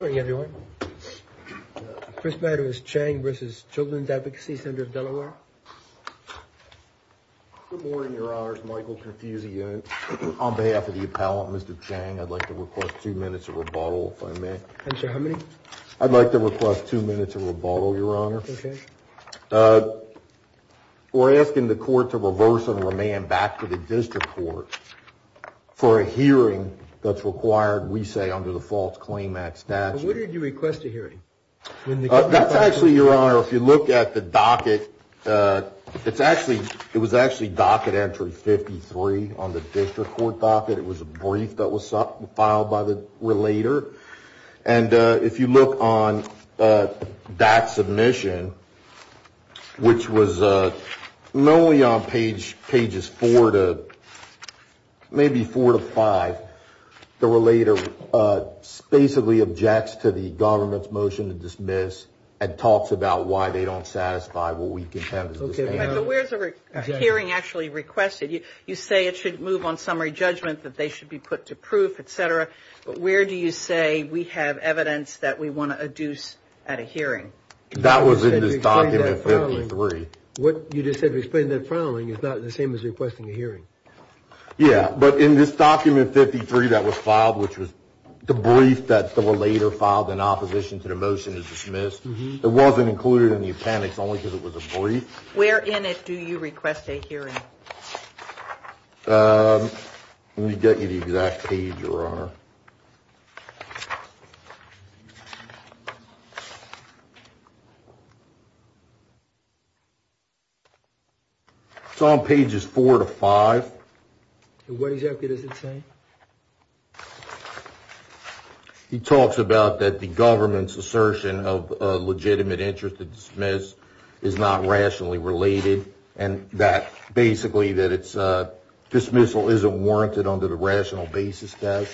Good morning, everyone. First matter is Chang v. Children's Advocacy, Senator of Delaware. Good morning, Your Honor. It's Michael Confucius. On behalf of the appellant, Mr. Chang, I'd like to request two minutes of rebuttal, if I may. Answer how many? I'd like to request two minutes of rebuttal, Your Honor. Okay. We're asking the court to reverse and remand back to the district court for a hearing that's required, we say, under the False Claim Act statute. What did you request a hearing? That's actually, Your Honor, if you look at the docket, it was actually docket entry 53 on the district court docket. It was a brief that was filed by the relator. And if you look on that submission, which was only on pages four to maybe four to five, the relator basically objects to the government's motion to dismiss and talks about why they don't satisfy what we can have as a hearing. Okay, but where's the hearing actually requested? You say it should move on summary judgment, that they should be put to proof, etc. But where do you say we have a deuce at a hearing? That was in this document 53. What you just said to explain that filing is not the same as requesting a hearing. Yeah, but in this document 53 that was filed, which was the brief that the relator filed in opposition to the motion to dismiss, it wasn't included in the appendix only because it was a brief. Where in it do you request a hearing? Let me get you the exact page, Your Honor. It's on pages four to five. What exactly does it say? He talks about that the government's assertion of a legitimate interest to dismiss is not rationally related and that basically that it's a dismissal isn't warranted under the rational basis test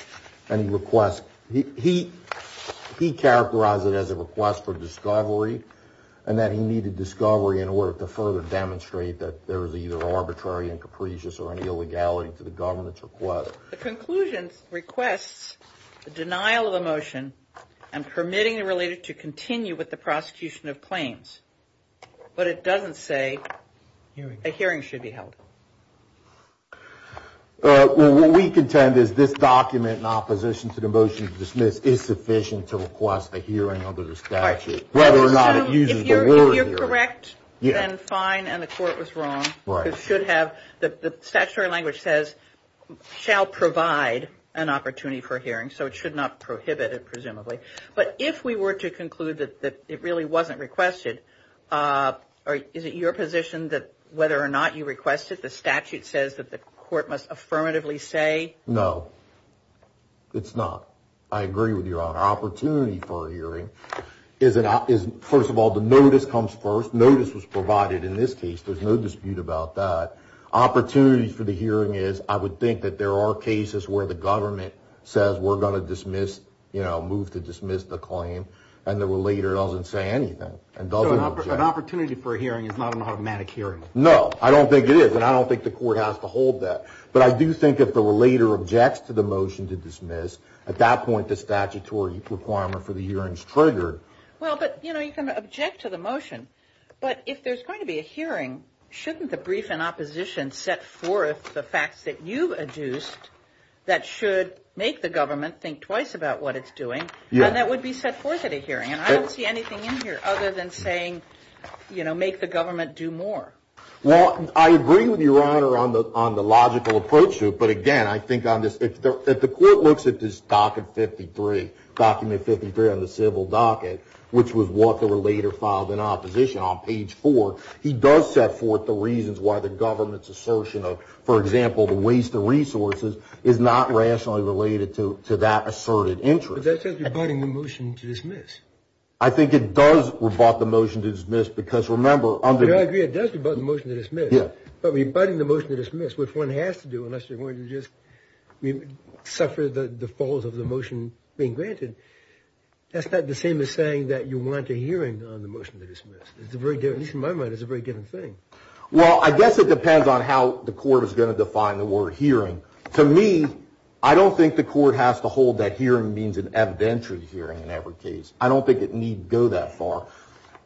and requests. He characterized it as a request for discovery and that he needed discovery in order to further demonstrate that there is either arbitrary and capricious or an illegality to the government's request. The conclusion requests the denial of the motion and permitting the to continue with the prosecution of claims, but it doesn't say a hearing should be held. What we contend is this document in opposition to the motion to dismiss is sufficient to request a hearing under the statute, whether or not it uses the word hearing. If you're correct, then fine and the court was wrong. The statutory language says shall provide an opportunity for to conclude that it really wasn't requested. Is it your position that whether or not you requested the statute says that the court must affirmatively say? No, it's not. I agree with Your Honor. Opportunity for a hearing is first of all the notice comes first. Notice was provided in this case. There's no dispute about that. Opportunity for the hearing is I would think that there are cases where the government says we're going to move to dismiss the claim. And there were later doesn't say anything and doesn't have an opportunity for a hearing. It's not an automatic hearing. No, I don't think it is. And I don't think the court has to hold that. But I do think that the later objects to the motion to dismiss. At that point, the statutory requirement for the hearings triggered. Well, but, you know, you can object to the motion. But if there's going to be a hearing, shouldn't the brief in opposition set forth the facts that you've adduced that should make the government think twice about what it's I don't see anything in here other than saying, you know, make the government do more. Well, I agree with Your Honor on the on the logical approach to it. But again, I think on this, if the court looks at this docket 53, document 53 on the civil docket, which was what they were later filed in opposition on page four, he does set forth the reasons why the government's assertion of, for example, the waste of resources is not rationally related to that asserted rebutting the motion to dismiss. I think it does rebut the motion to dismiss, because remember, I agree, it does rebut the motion to dismiss. But rebutting the motion to dismiss, which one has to do unless you're going to just suffer the falls of the motion being granted. That's not the same as saying that you want a hearing on the motion to dismiss. It's a very different moment. It's a very different thing. Well, I guess it depends on how the court is going to define the word hearing. To me, I don't think the court has to hold that hearing means an evidentiary hearing in every case. I don't think it need go that far.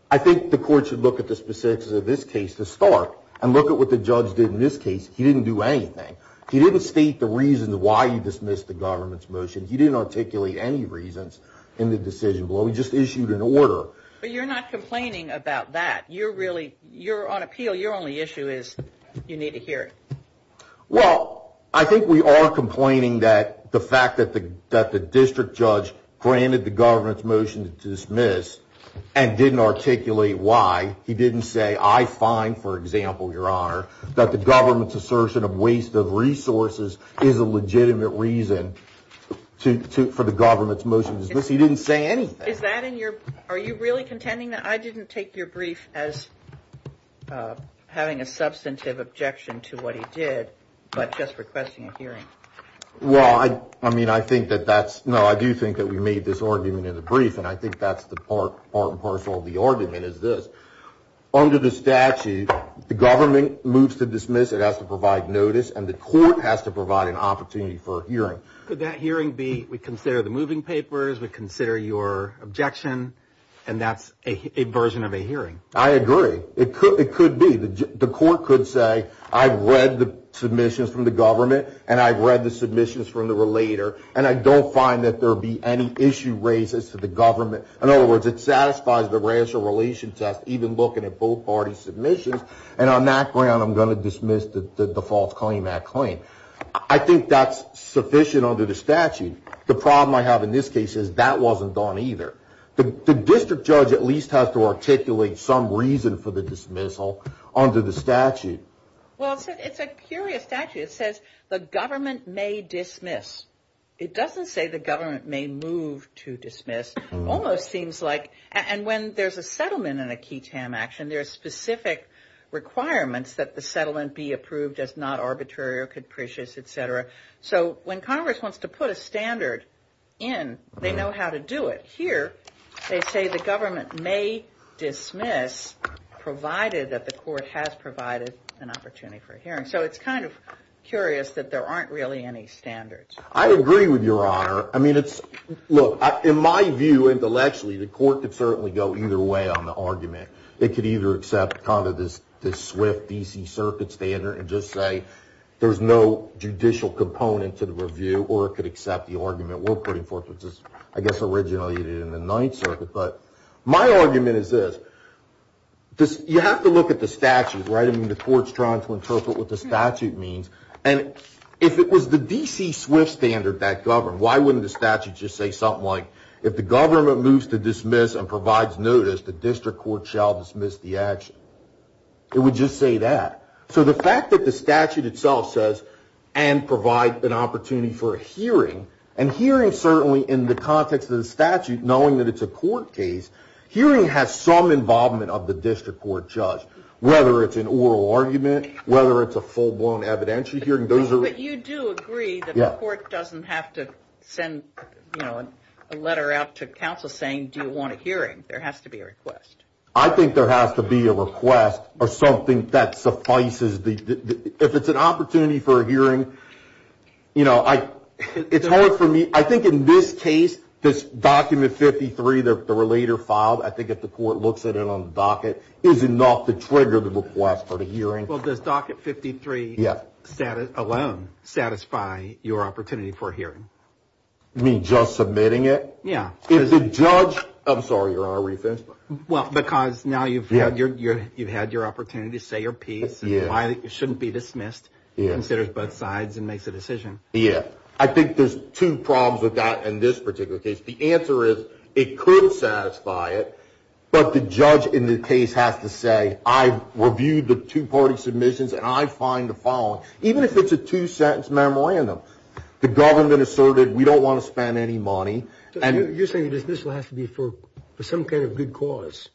I think the court should look at the specifics of this case to start and look at what the judge did in this case. He didn't do anything. He didn't state the reasons why you dismissed the government's motion. He didn't articulate any reasons in the decision below. He just issued an order. But you're not complaining about that. You're on appeal. Your only issue is you need to hear it. Well, I think we are complaining that the fact that the district judge granted the government's motion to dismiss and didn't articulate why. He didn't say, I find, for example, Your Honor, that the government's assertion of waste of resources is a legitimate reason for the government's motion to dismiss. He didn't say anything. Are you really contending that I didn't take your brief as having a substantive objection to what he did, but just requesting a hearing? Well, I mean, I think that that's no, I do think that we made this argument in the brief, and I think that's the part and parcel of the argument is this. Under the statute, the government moves to dismiss, it has to provide notice, and the court has to provide an opportunity for a hearing. Could that hearing be, we consider the moving papers, we consider your objection, and that's a version of a hearing? I agree. It could be. The court could say, I've read the submissions from the government, and I've read the submissions from the relator, and I don't find that there be any issue raises to the government. In other words, it satisfies the racial relation test, even looking at both parties' submissions. And on that ground, I'm going to dismiss the false claim, that claim. I think that's sufficient under the statute. The problem I have in this case is that wasn't done either. The district judge at least has to articulate some reason for the dismissal under the statute. Well, it's a curious statute. It says the government may dismiss. It doesn't say the government may move to dismiss. Almost seems like, and when there's a settlement in a key TAM action, there's specific requirements that the settlement be approved as not arbitrary or capricious, et cetera. So when Congress wants to put a standard in, they know how to do it. Here, they say the government may dismiss, provided that the court has provided an opportunity for a hearing. So it's kind of curious that there aren't really any standards. I agree with your honor. Look, in my view, intellectually, the court could certainly go either way on the argument. It could either accept this SWIFT DC Circuit standard and just say there's no judicial component to the review, or it could accept the argument we're putting forth, which is, I guess, originally in the Ninth Circuit. But my argument is this. You have to look at the statute, right? I mean, the court's trying to interpret what the statute means. And if it was the DC SWIFT standard that governed, why wouldn't the statute just say something like, if the dismissed the action? It would just say that. So the fact that the statute itself says, and provide an opportunity for a hearing, and hearing certainly in the context of the statute, knowing that it's a court case, hearing has some involvement of the district court judge, whether it's an oral argument, whether it's a full-blown evidentiary hearing. But you do agree that the court doesn't have to send a letter out to counsel saying, do you want a hearing? There has to be a request. I think there has to be a request, or something that suffices. If it's an opportunity for a hearing, you know, it's hard for me, I think in this case, this document 53, the relator filed, I think if the court looks at it on the docket, is enough to trigger the request for the hearing. Well, does docket 53 alone satisfy your opportunity for a hearing? You mean just submitting it? Yeah. If the judge, I'm sorry, you're on a reference. Well, because now you've had your opportunity to say your piece, and why it shouldn't be dismissed, considers both sides, and makes a decision. Yeah. I think there's two problems with that in this particular case. The answer is, it could satisfy it, but the judge in the case has to say, I've reviewed the two-party submissions, and I find the following. Even if it's a two-sentence memorandum, the government asserted, we don't want to spend any money. And you're saying this will have to be for some kind of good cause.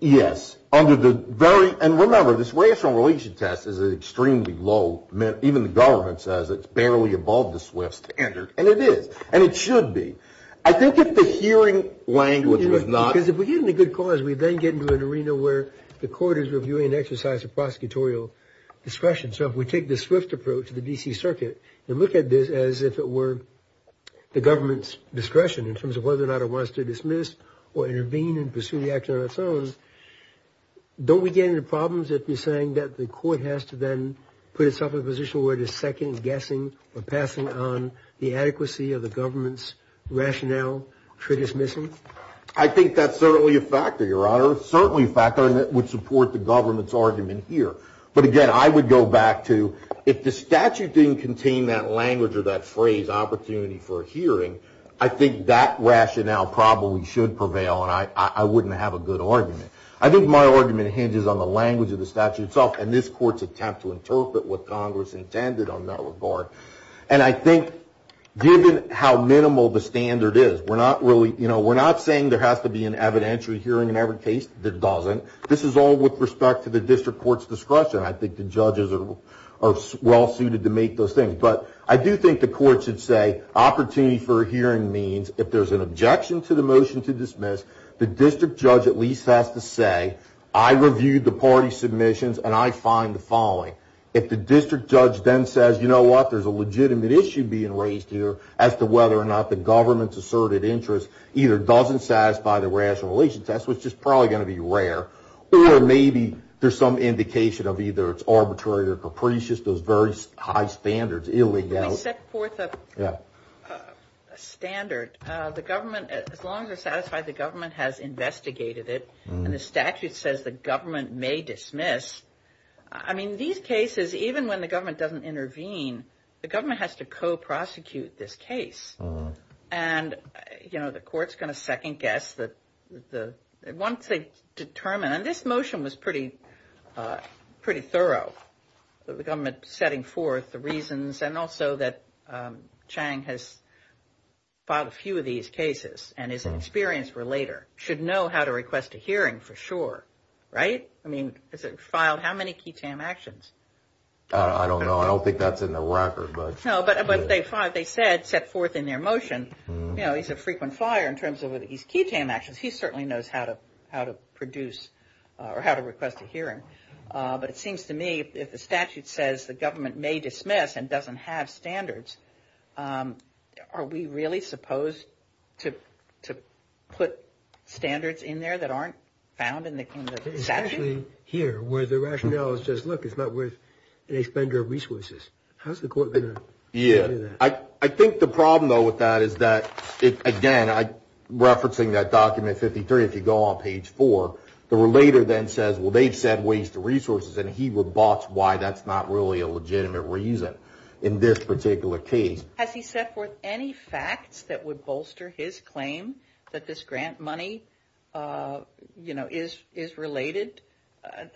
Yes, under the very, and remember, this racial relation test is extremely low, even the government says it's barely above the SWIFT standard, and it is, and it should be. I think if the hearing language was not... Because if we're getting a good cause, we then get into an arena where the court is reviewing an exercise of prosecutorial discretion. So if we take the SWIFT approach to the D.C. Circuit, and look at this as if it were the government's discretion in terms of whether or not it wants to dismiss, or intervene and pursue the action on its own, don't we get into problems if you're saying that the court has to then put itself in a position where it is second-guessing, or passing on the adequacy of the government's rationale for dismissing? I think that's certainly a factor, Your Honor, certainly a factor, and that would support the I would go back to, if the statute didn't contain that language or that phrase, opportunity for a hearing, I think that rationale probably should prevail, and I wouldn't have a good argument. I think my argument hinges on the language of the statute itself, and this court's attempt to interpret what Congress intended on that regard. And I think given how minimal the standard is, we're not saying there has to be an evidentiary hearing in every case. There doesn't. This is all with respect to the district court's discretion. I think the judges are well-suited to make those things. But I do think the court should say, opportunity for a hearing means, if there's an objection to the motion to dismiss, the district judge at least has to say, I reviewed the party submissions, and I find the following. If the district judge then says, you know what, there's a legitimate issue being raised here as to whether or not the government's asserted interest either doesn't satisfy the rational test, which is probably going to be rare, or maybe there's some indication of either it's arbitrary or capricious, those very high standards. If we set forth a standard, the government, as long as it's satisfied the government has investigated it, and the statute says the government may dismiss, I mean, these cases, even when the government doesn't intervene, the government has to co-prosecute this case. And, you know, the court's going to second-guess the, once they determine, and this motion was pretty thorough, the government setting forth the reasons, and also that Chang has filed a few of these cases, and is an experienced relator, should know how to request a hearing for sure, right? I mean, has it filed how many key TAM actions? I don't know. I don't think that's in the record, but. No, but they filed, they said, set forth in their motion, you know, he's a frequent fire in terms of his key TAM actions. He certainly knows how to produce, or how to request a hearing. But it seems to me, if the statute says the government may dismiss and doesn't have standards, are we really supposed to put standards in there that aren't found in the statute? Especially here, where the rationale is just, look, it's not worth an expender of resources. How's the court going to do that? I think the problem, though, with that is that, again, referencing that document 53, if you go on page four, the relator then says, well, they've said waste the resources, and he would botch why that's not really a legitimate reason in this particular case. Has he set forth any facts that would bolster his claim that this grant money, you know, is related?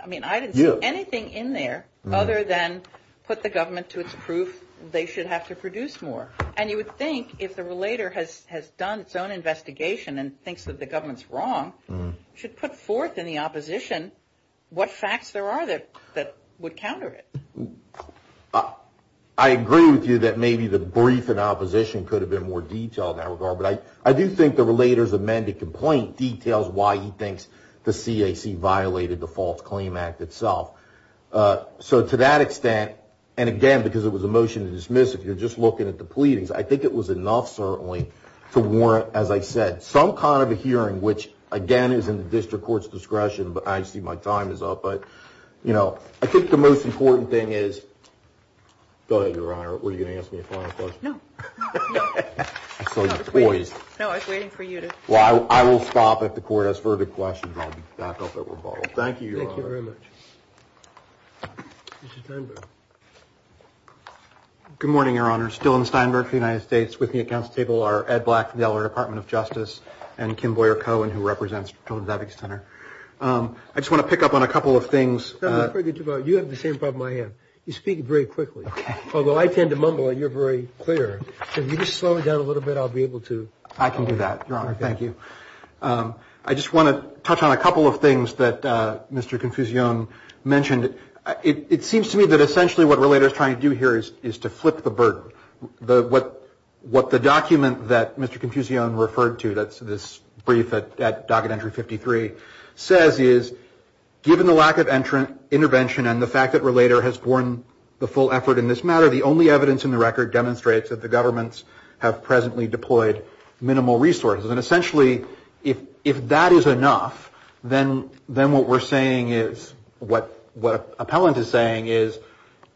I mean, I didn't see anything in there other than put the government to its proof they should have to produce more. And you would think, if the relator has done its own investigation and thinks that the government's wrong, should put forth in the opposition what facts there are that would counter it. I agree with you that maybe the brief in opposition could have been more detailed in that regard. But I do think the relator's amended complaint details why he thinks the CAC violated the False Claim Act itself. So to that extent, and again, because it was a motion to dismiss, if you're just looking at the pleadings, I think it was enough, certainly, to warrant, as I said, some kind of a hearing, which, again, is in the district court's discretion, but I see my time is up. But, you know, I think the most important thing is, go ahead, Your Honor, were you going to ask me a final question? No. I saw you poised. No, I was waiting for you to. Well, I will stop the court, ask further questions, and I'll be back up at rebuttal. Thank you, Your Honor. Thank you very much. Mr. Steinberg. Good morning, Your Honor. Dillon Steinberg for the United States. With me at council table are Ed Black from the Eller Department of Justice and Kim Boyer-Cohen, who represents Children's Advocacy Center. I just want to pick up on a couple of things. You have the same problem I have. You speak very quickly, although I tend to mumble and you're very clear. So if you just slow it down a little bit, I'll be able to. I can do that, Your Honor. Thank you. I just want to touch on a couple of things that Mr. Confusione mentioned. It seems to me that essentially what RELATOR is trying to do here is to flip the burden. What the document that Mr. Confusione referred to, that's this brief at Docket Entry 53, says is, given the lack of intervention and the fact that RELATOR has borne the full effort in this matter, the only evidence in the record demonstrates that the government has presently deployed minimal resources. And essentially, if that is enough, then what we're saying is, what appellant is saying is,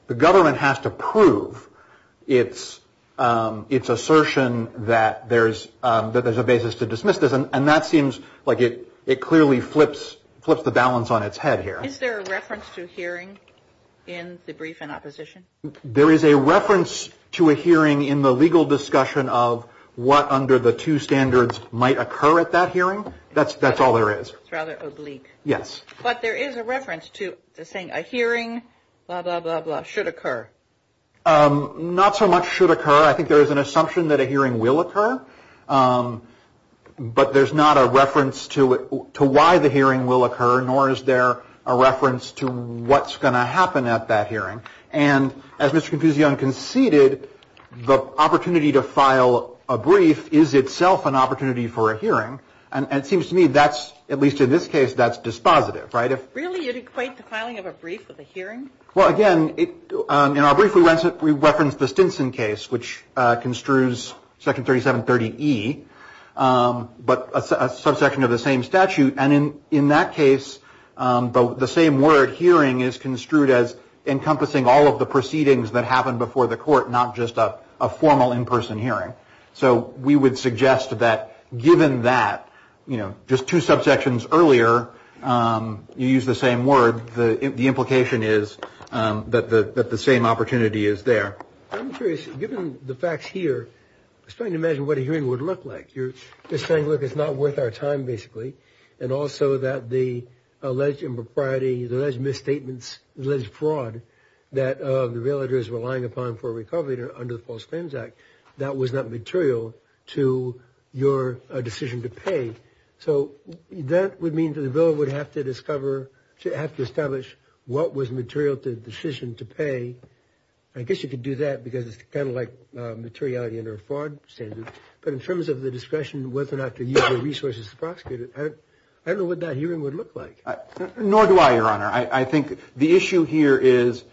the government has to prove its assertion that there's a basis to dismiss this. And that seems like it clearly flips the balance on its head here. Is there a reference to a hearing in the brief in opposition? There is a reference to a hearing in the legal discussion of what under the two standards might occur at that hearing. That's all there is. It's rather oblique. Yes. But there is a reference to saying a hearing, blah, blah, blah, should occur. Not so much should occur. I think there is an assumption that a hearing will occur. But there's not a reference to why the hearing will occur. And as Mr. Confusione conceded, the opportunity to file a brief is itself an opportunity for a hearing. And it seems to me that's, at least in this case, that's dispositive, right? Really, you'd equate the filing of a brief with a hearing? Well, again, in our brief, we referenced the Stinson case, which construes Section 3730E, but a subsection of the same statute. And in that case, the same word, hearing, is construed as the proceedings that happened before the court, not just a formal in-person hearing. So we would suggest that given that, you know, just two subsections earlier, you use the same word, the implication is that the same opportunity is there. I'm curious, given the facts here, I was trying to imagine what a hearing would look like. You're saying, look, it's not worth our time, basically. And also that the alleged impropriety, the alleged misstatements, the alleged fraud that the villager is relying upon for recovery under the False Claims Act, that was not material to your decision to pay. So that would mean that the villager would have to discover, have to establish what was material to the decision to pay. I guess you could do that because it's kind of like materiality under a fraud standard. But in terms of the discretion whether or not to use the resources to prosecute it, I don't know what that hearing would look like. Nor do I, Your Honor. I think the issue here is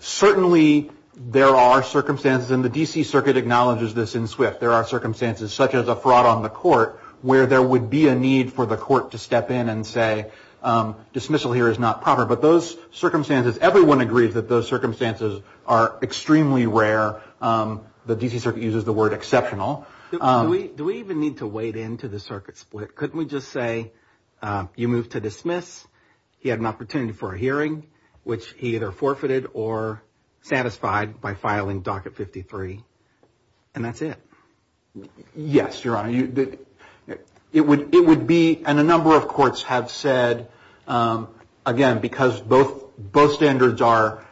certainly there are circumstances, and the D.C. Circuit acknowledges this in swift, there are circumstances such as a fraud on the court where there would be a need for the court to step in and say dismissal here is not proper. But those circumstances, everyone agrees that those circumstances are extremely rare. The D.C. Circuit uses the word exceptional. Do we even need to wade into the circuit split? Couldn't we just say you move to dismiss, he had an opportunity for a hearing, which he either forfeited or satisfied by filing Docket 53, and that's it? Yes, Your Honor. It would be, and a number of courts have said, again, because both standards are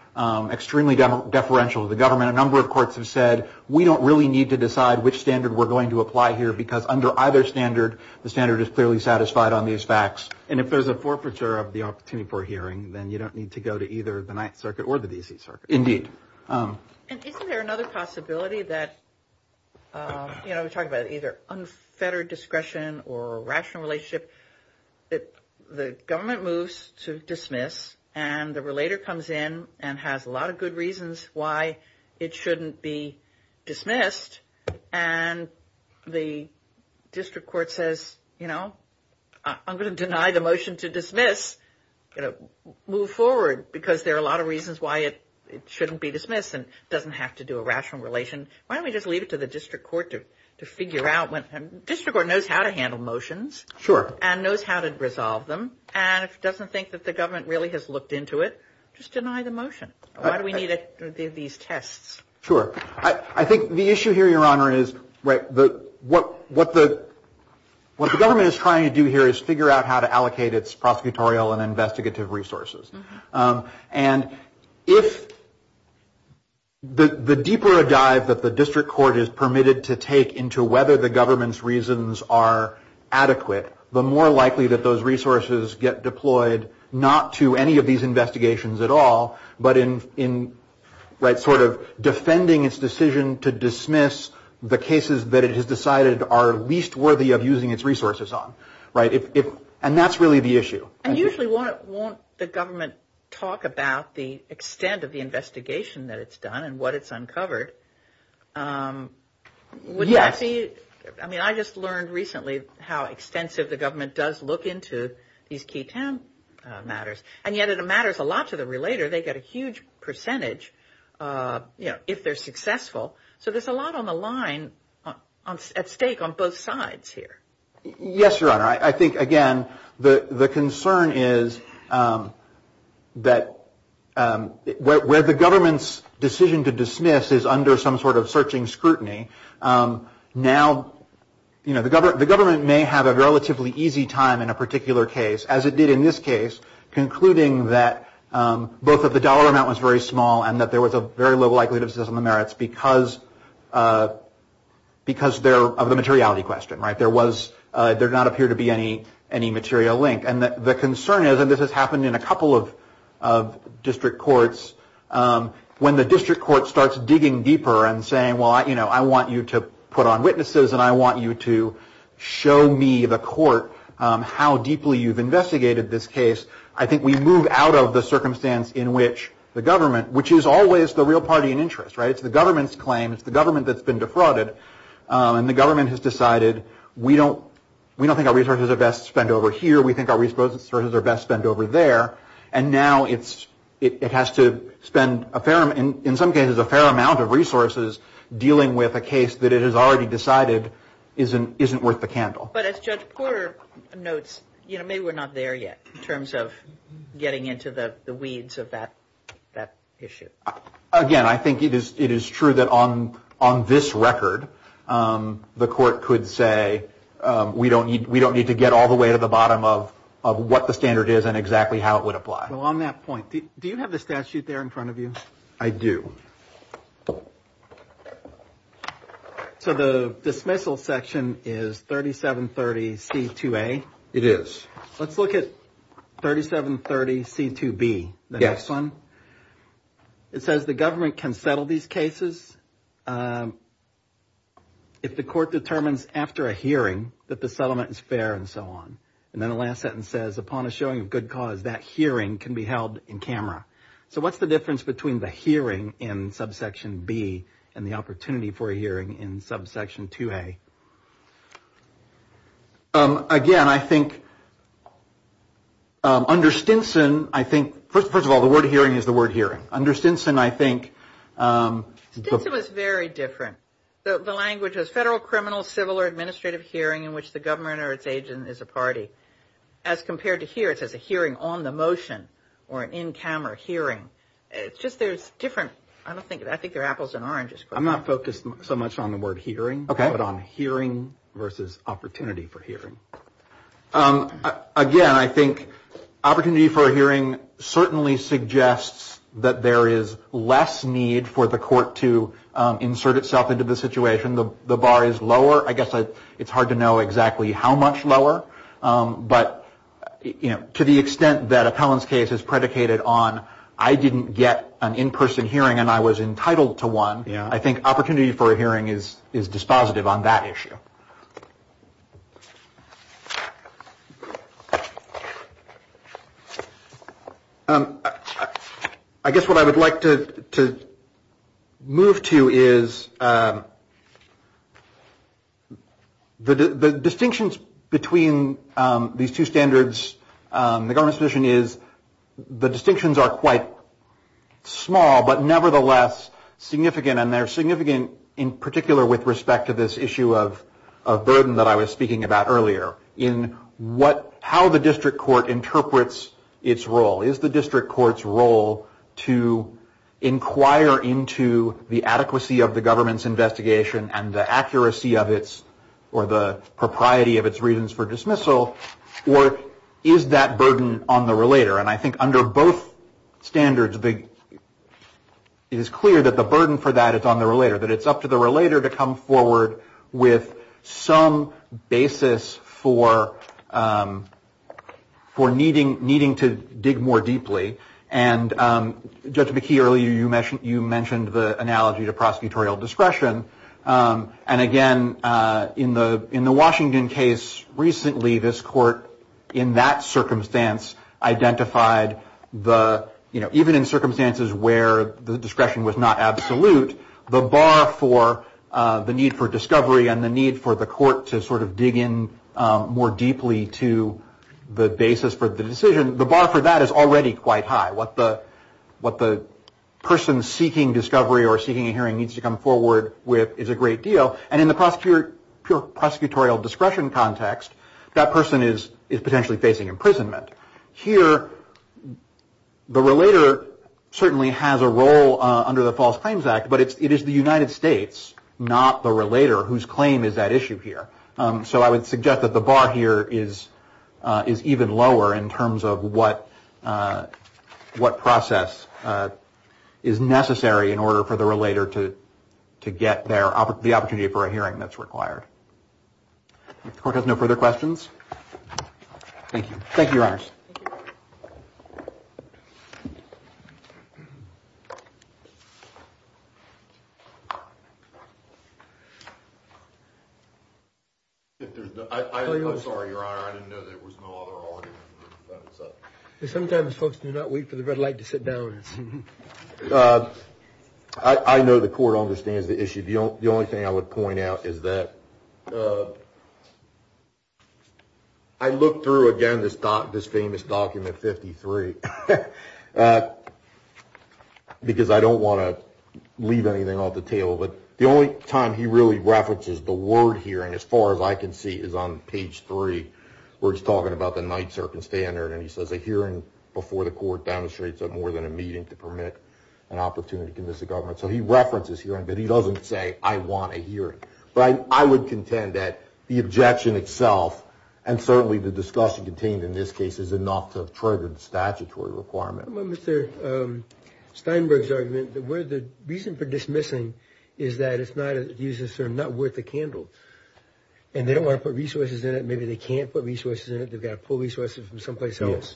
extremely deferential to the government, a number of courts have said we don't really need to decide which standard we're going to apply here because under either standard, the standard is clearly satisfied on these facts. And if there's a forfeiture of the opportunity for a hearing, then you don't need to go to either the Ninth Circuit or the D.C. Circuit. Indeed. And isn't there another possibility that, you know, we're talking about either unfettered discretion or rational relationship that the government moves to dismiss and the relator comes in and has a lot of good reasons why it shouldn't be dismissed and the district court says, you know, I'm going to deny the motion to dismiss, you know, move forward because there are a lot of reasons why it shouldn't be dismissed and doesn't have to do a rational relation. Why don't we just leave it to the district court to figure out when, district court knows how to handle motions. Sure. And knows how to resolve them. And if it doesn't think that the government really has looked into it, just deny the motion. Why do we need these tests? Sure. I think the issue here, Your Honor, is what the government is trying to do here is figure out how to allocate its prosecutorial and investigative resources. And if the deeper a dive that the district court is permitted to take into whether the deployed not to any of these investigations at all, but in right sort of defending its decision to dismiss the cases that it has decided are least worthy of using its resources on. Right. And that's really the issue. And usually won't the government talk about the extent of the investigation that it's done and what it's uncovered? Yes. I mean, I just learned recently how extensive the government does look into these key town matters. And yet it matters a lot to the relator. They get a huge percentage, you know, if they're successful. So there's a lot on the line at stake on both sides here. Yes, Your Honor. I think, again, the concern is that where the government's decision to dismiss is under some sort of searching scrutiny. Now, you know, the government may have a relatively easy time in a particular case, as it did in this case, concluding that both of the dollar amount was very small and that there was a very low likelihood of system of merits because of the materiality question. Right. There was there did not appear to be any material link. And the concern is, and this has happened in a couple of district courts, when the district court starts digging deeper and saying, well, you know, I want you to put on witnesses and I want you to show me the court how deeply you've investigated this case. I think we move out of the circumstance in which the government, which is always the real party in interest. Right. It's the government's claim. It's the government that's been defrauded and the government has decided we don't we don't think our resources are best spent over here. We think our resources are best spent over there. And now it's it has to spend a fair in some cases a fair amount of resources dealing with a case that it has already decided isn't isn't worth the candle. But as Judge Porter notes, you know, maybe we're not there yet in terms of getting into the weeds of that that issue. Again, I think it is it is true that on on this record, the court could say we don't need we don't need to go all the way to the bottom of of what the standard is and exactly how it would apply. Well, on that point, do you have the statute there in front of you? I do. So the dismissal section is 3730 C2A. It is. Let's look at 3730 C2B, the next one. It says the government can settle these cases if the court determines after a hearing that the settlement is fair and so on. And then the last sentence says upon a showing of good cause, that hearing can be held in camera. So what's the difference between the hearing in subsection B and the opportunity for a hearing in subsection 2A? Again, I think under Stinson, I think first of all, the word hearing is the word hearing under Stinson. I think it was very different. The language is federal, criminal, civil or administrative hearing in which the government or its agent is a party. As compared to here, it says a hearing on the motion or an in-camera hearing. It's just there's different. I don't think I think they're apples and oranges. I'm not focused so much on the word hearing, but on hearing versus opportunity for hearing. Again, I think opportunity for a hearing certainly suggests that there is less need for the situation. The bar is lower. I guess it's hard to know exactly how much lower. But to the extent that Appellant's case is predicated on I didn't get an in-person hearing and I was entitled to one. I think opportunity for a hearing is dispositive on that issue. I guess what I would like to move to is the distinctions between these two standards. The government's position is the distinctions are quite small, but nevertheless significant and they're significant in particular with respect to this issue of burden that I was talking about earlier in what how the district court interprets its role. Is the district court's role to inquire into the adequacy of the government's investigation and the accuracy of its or the propriety of its reasons for dismissal or is that burden on the relator? And I think under both standards, it is clear that the burden for that is on the relator, that it's up to the relator to come forward with some basis for needing to dig more deeply. And Judge McKee, earlier you mentioned the analogy to prosecutorial discretion. And again, in the Washington case recently, this court in that circumstance identified the, you know, even in circumstances where the discretion was not absolute, the bar for the need for discovery and the need for the court to sort of dig in more deeply to the basis for the decision, the bar for that is already quite high. What the person seeking discovery or seeking a hearing needs to come forward with is a great deal. And in the prosecutorial discretion context, that person is potentially facing imprisonment. Here, the relator certainly has a role under the False Claims Act, but it is the United States, not the relator, whose claim is that issue here. So I would suggest that the bar here is even lower in terms of what process is necessary in order for the relator to get the opportunity for a hearing that's required. If the court has no further questions. Thank you. Thank you, Your Honor. I'm sorry, Your Honor, I didn't know there was no other argument. Sometimes folks do not wait for the red light to sit down. I know the court understands the issue. The only thing I would point out is that I looked through, again, this famous document 53, because I don't want to leave anything off the table. But the only time he really references the word hearing, as far as I can see, is on page three, where he's talking about the night circumstandard. And he says, a hearing before the court demonstrates that more than a meeting to permit an opportunity to convince the government. So he references hearing, but he doesn't say, I want a hearing. But I would contend that the objection itself, and certainly the discussion contained in this case, is enough to have triggered the statutory requirement. Mr. Steinberg's argument, the reason for dismissing is that it's not worth a candle. And they don't want to put resources in it. Maybe they can't put resources in it. They've got to pull resources from someplace else.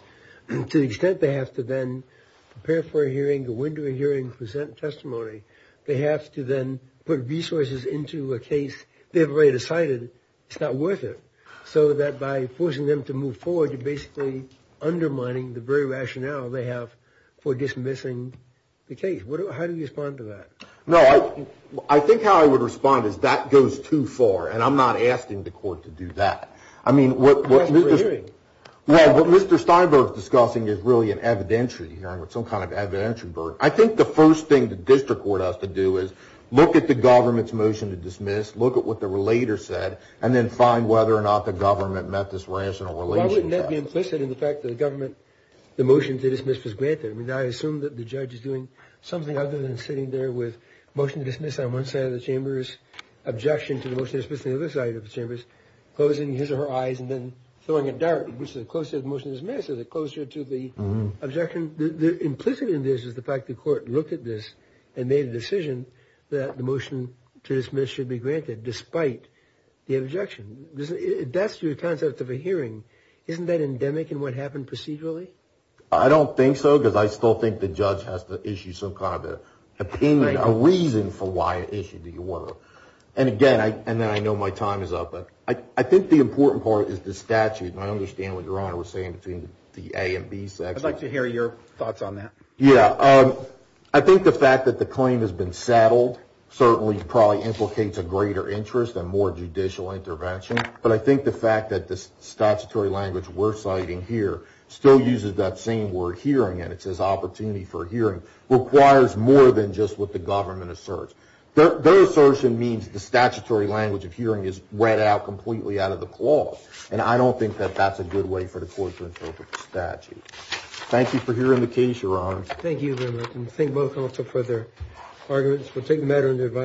To the extent they have to then prepare for a hearing, go into a hearing, present testimony, they have to then put resources into a case. They've already decided it's not worth it. So that by forcing them to move forward, you're basically undermining the very rationale they have for dismissing the case. How do you respond to that? No, I think how I would respond is that goes too far. And I'm not asking the court to do that. I mean, what Mr. Steinberg is discussing is really an evidentiary hearing, or some kind of evidentiary verdict. I think the first thing the district court has to do is look at the government's motion to dismiss, look at what the relator said, and then find whether or not the government met this rational relationship. Why wouldn't that be implicit in the fact that the government, the motion to dismiss was granted? I mean, I assume that the judge is doing something other than sitting there with a motion to dismiss on one side of the chamber's objection to the motion to dismiss on the other side of the chamber's, closing his or her eyes and then throwing a dart, which is closer to the motion to dismiss, is it closer to the objection? The implicit in this is the fact the court looked at this and made a decision that the motion to dismiss should be granted, despite the objection. That's your concept of a hearing. Isn't that endemic in what happened procedurally? I don't think so, because I still think the judge has to issue some kind of an opinion, a reason for why it issued the order. And again, and then I know my time is up, but I think the important part is the statute. And I understand what Your Honor was saying between the A and B sections. I'd like to hear your thoughts on that. Yeah, I think the fact that the claim has been settled certainly probably implicates a greater interest and more judicial intervention. But I think the fact that the statutory language we're citing here still uses that same word hearing and it says opportunity for hearing, requires more than just what the government asserts. Their assertion means the statutory language of hearing is read out completely out of the clause. And I don't think that that's a good way for the court to interpret the statute. Thank you for hearing the case, Your Honor. Thank you very much. And thank both also for their arguments. We'll take matter into advice.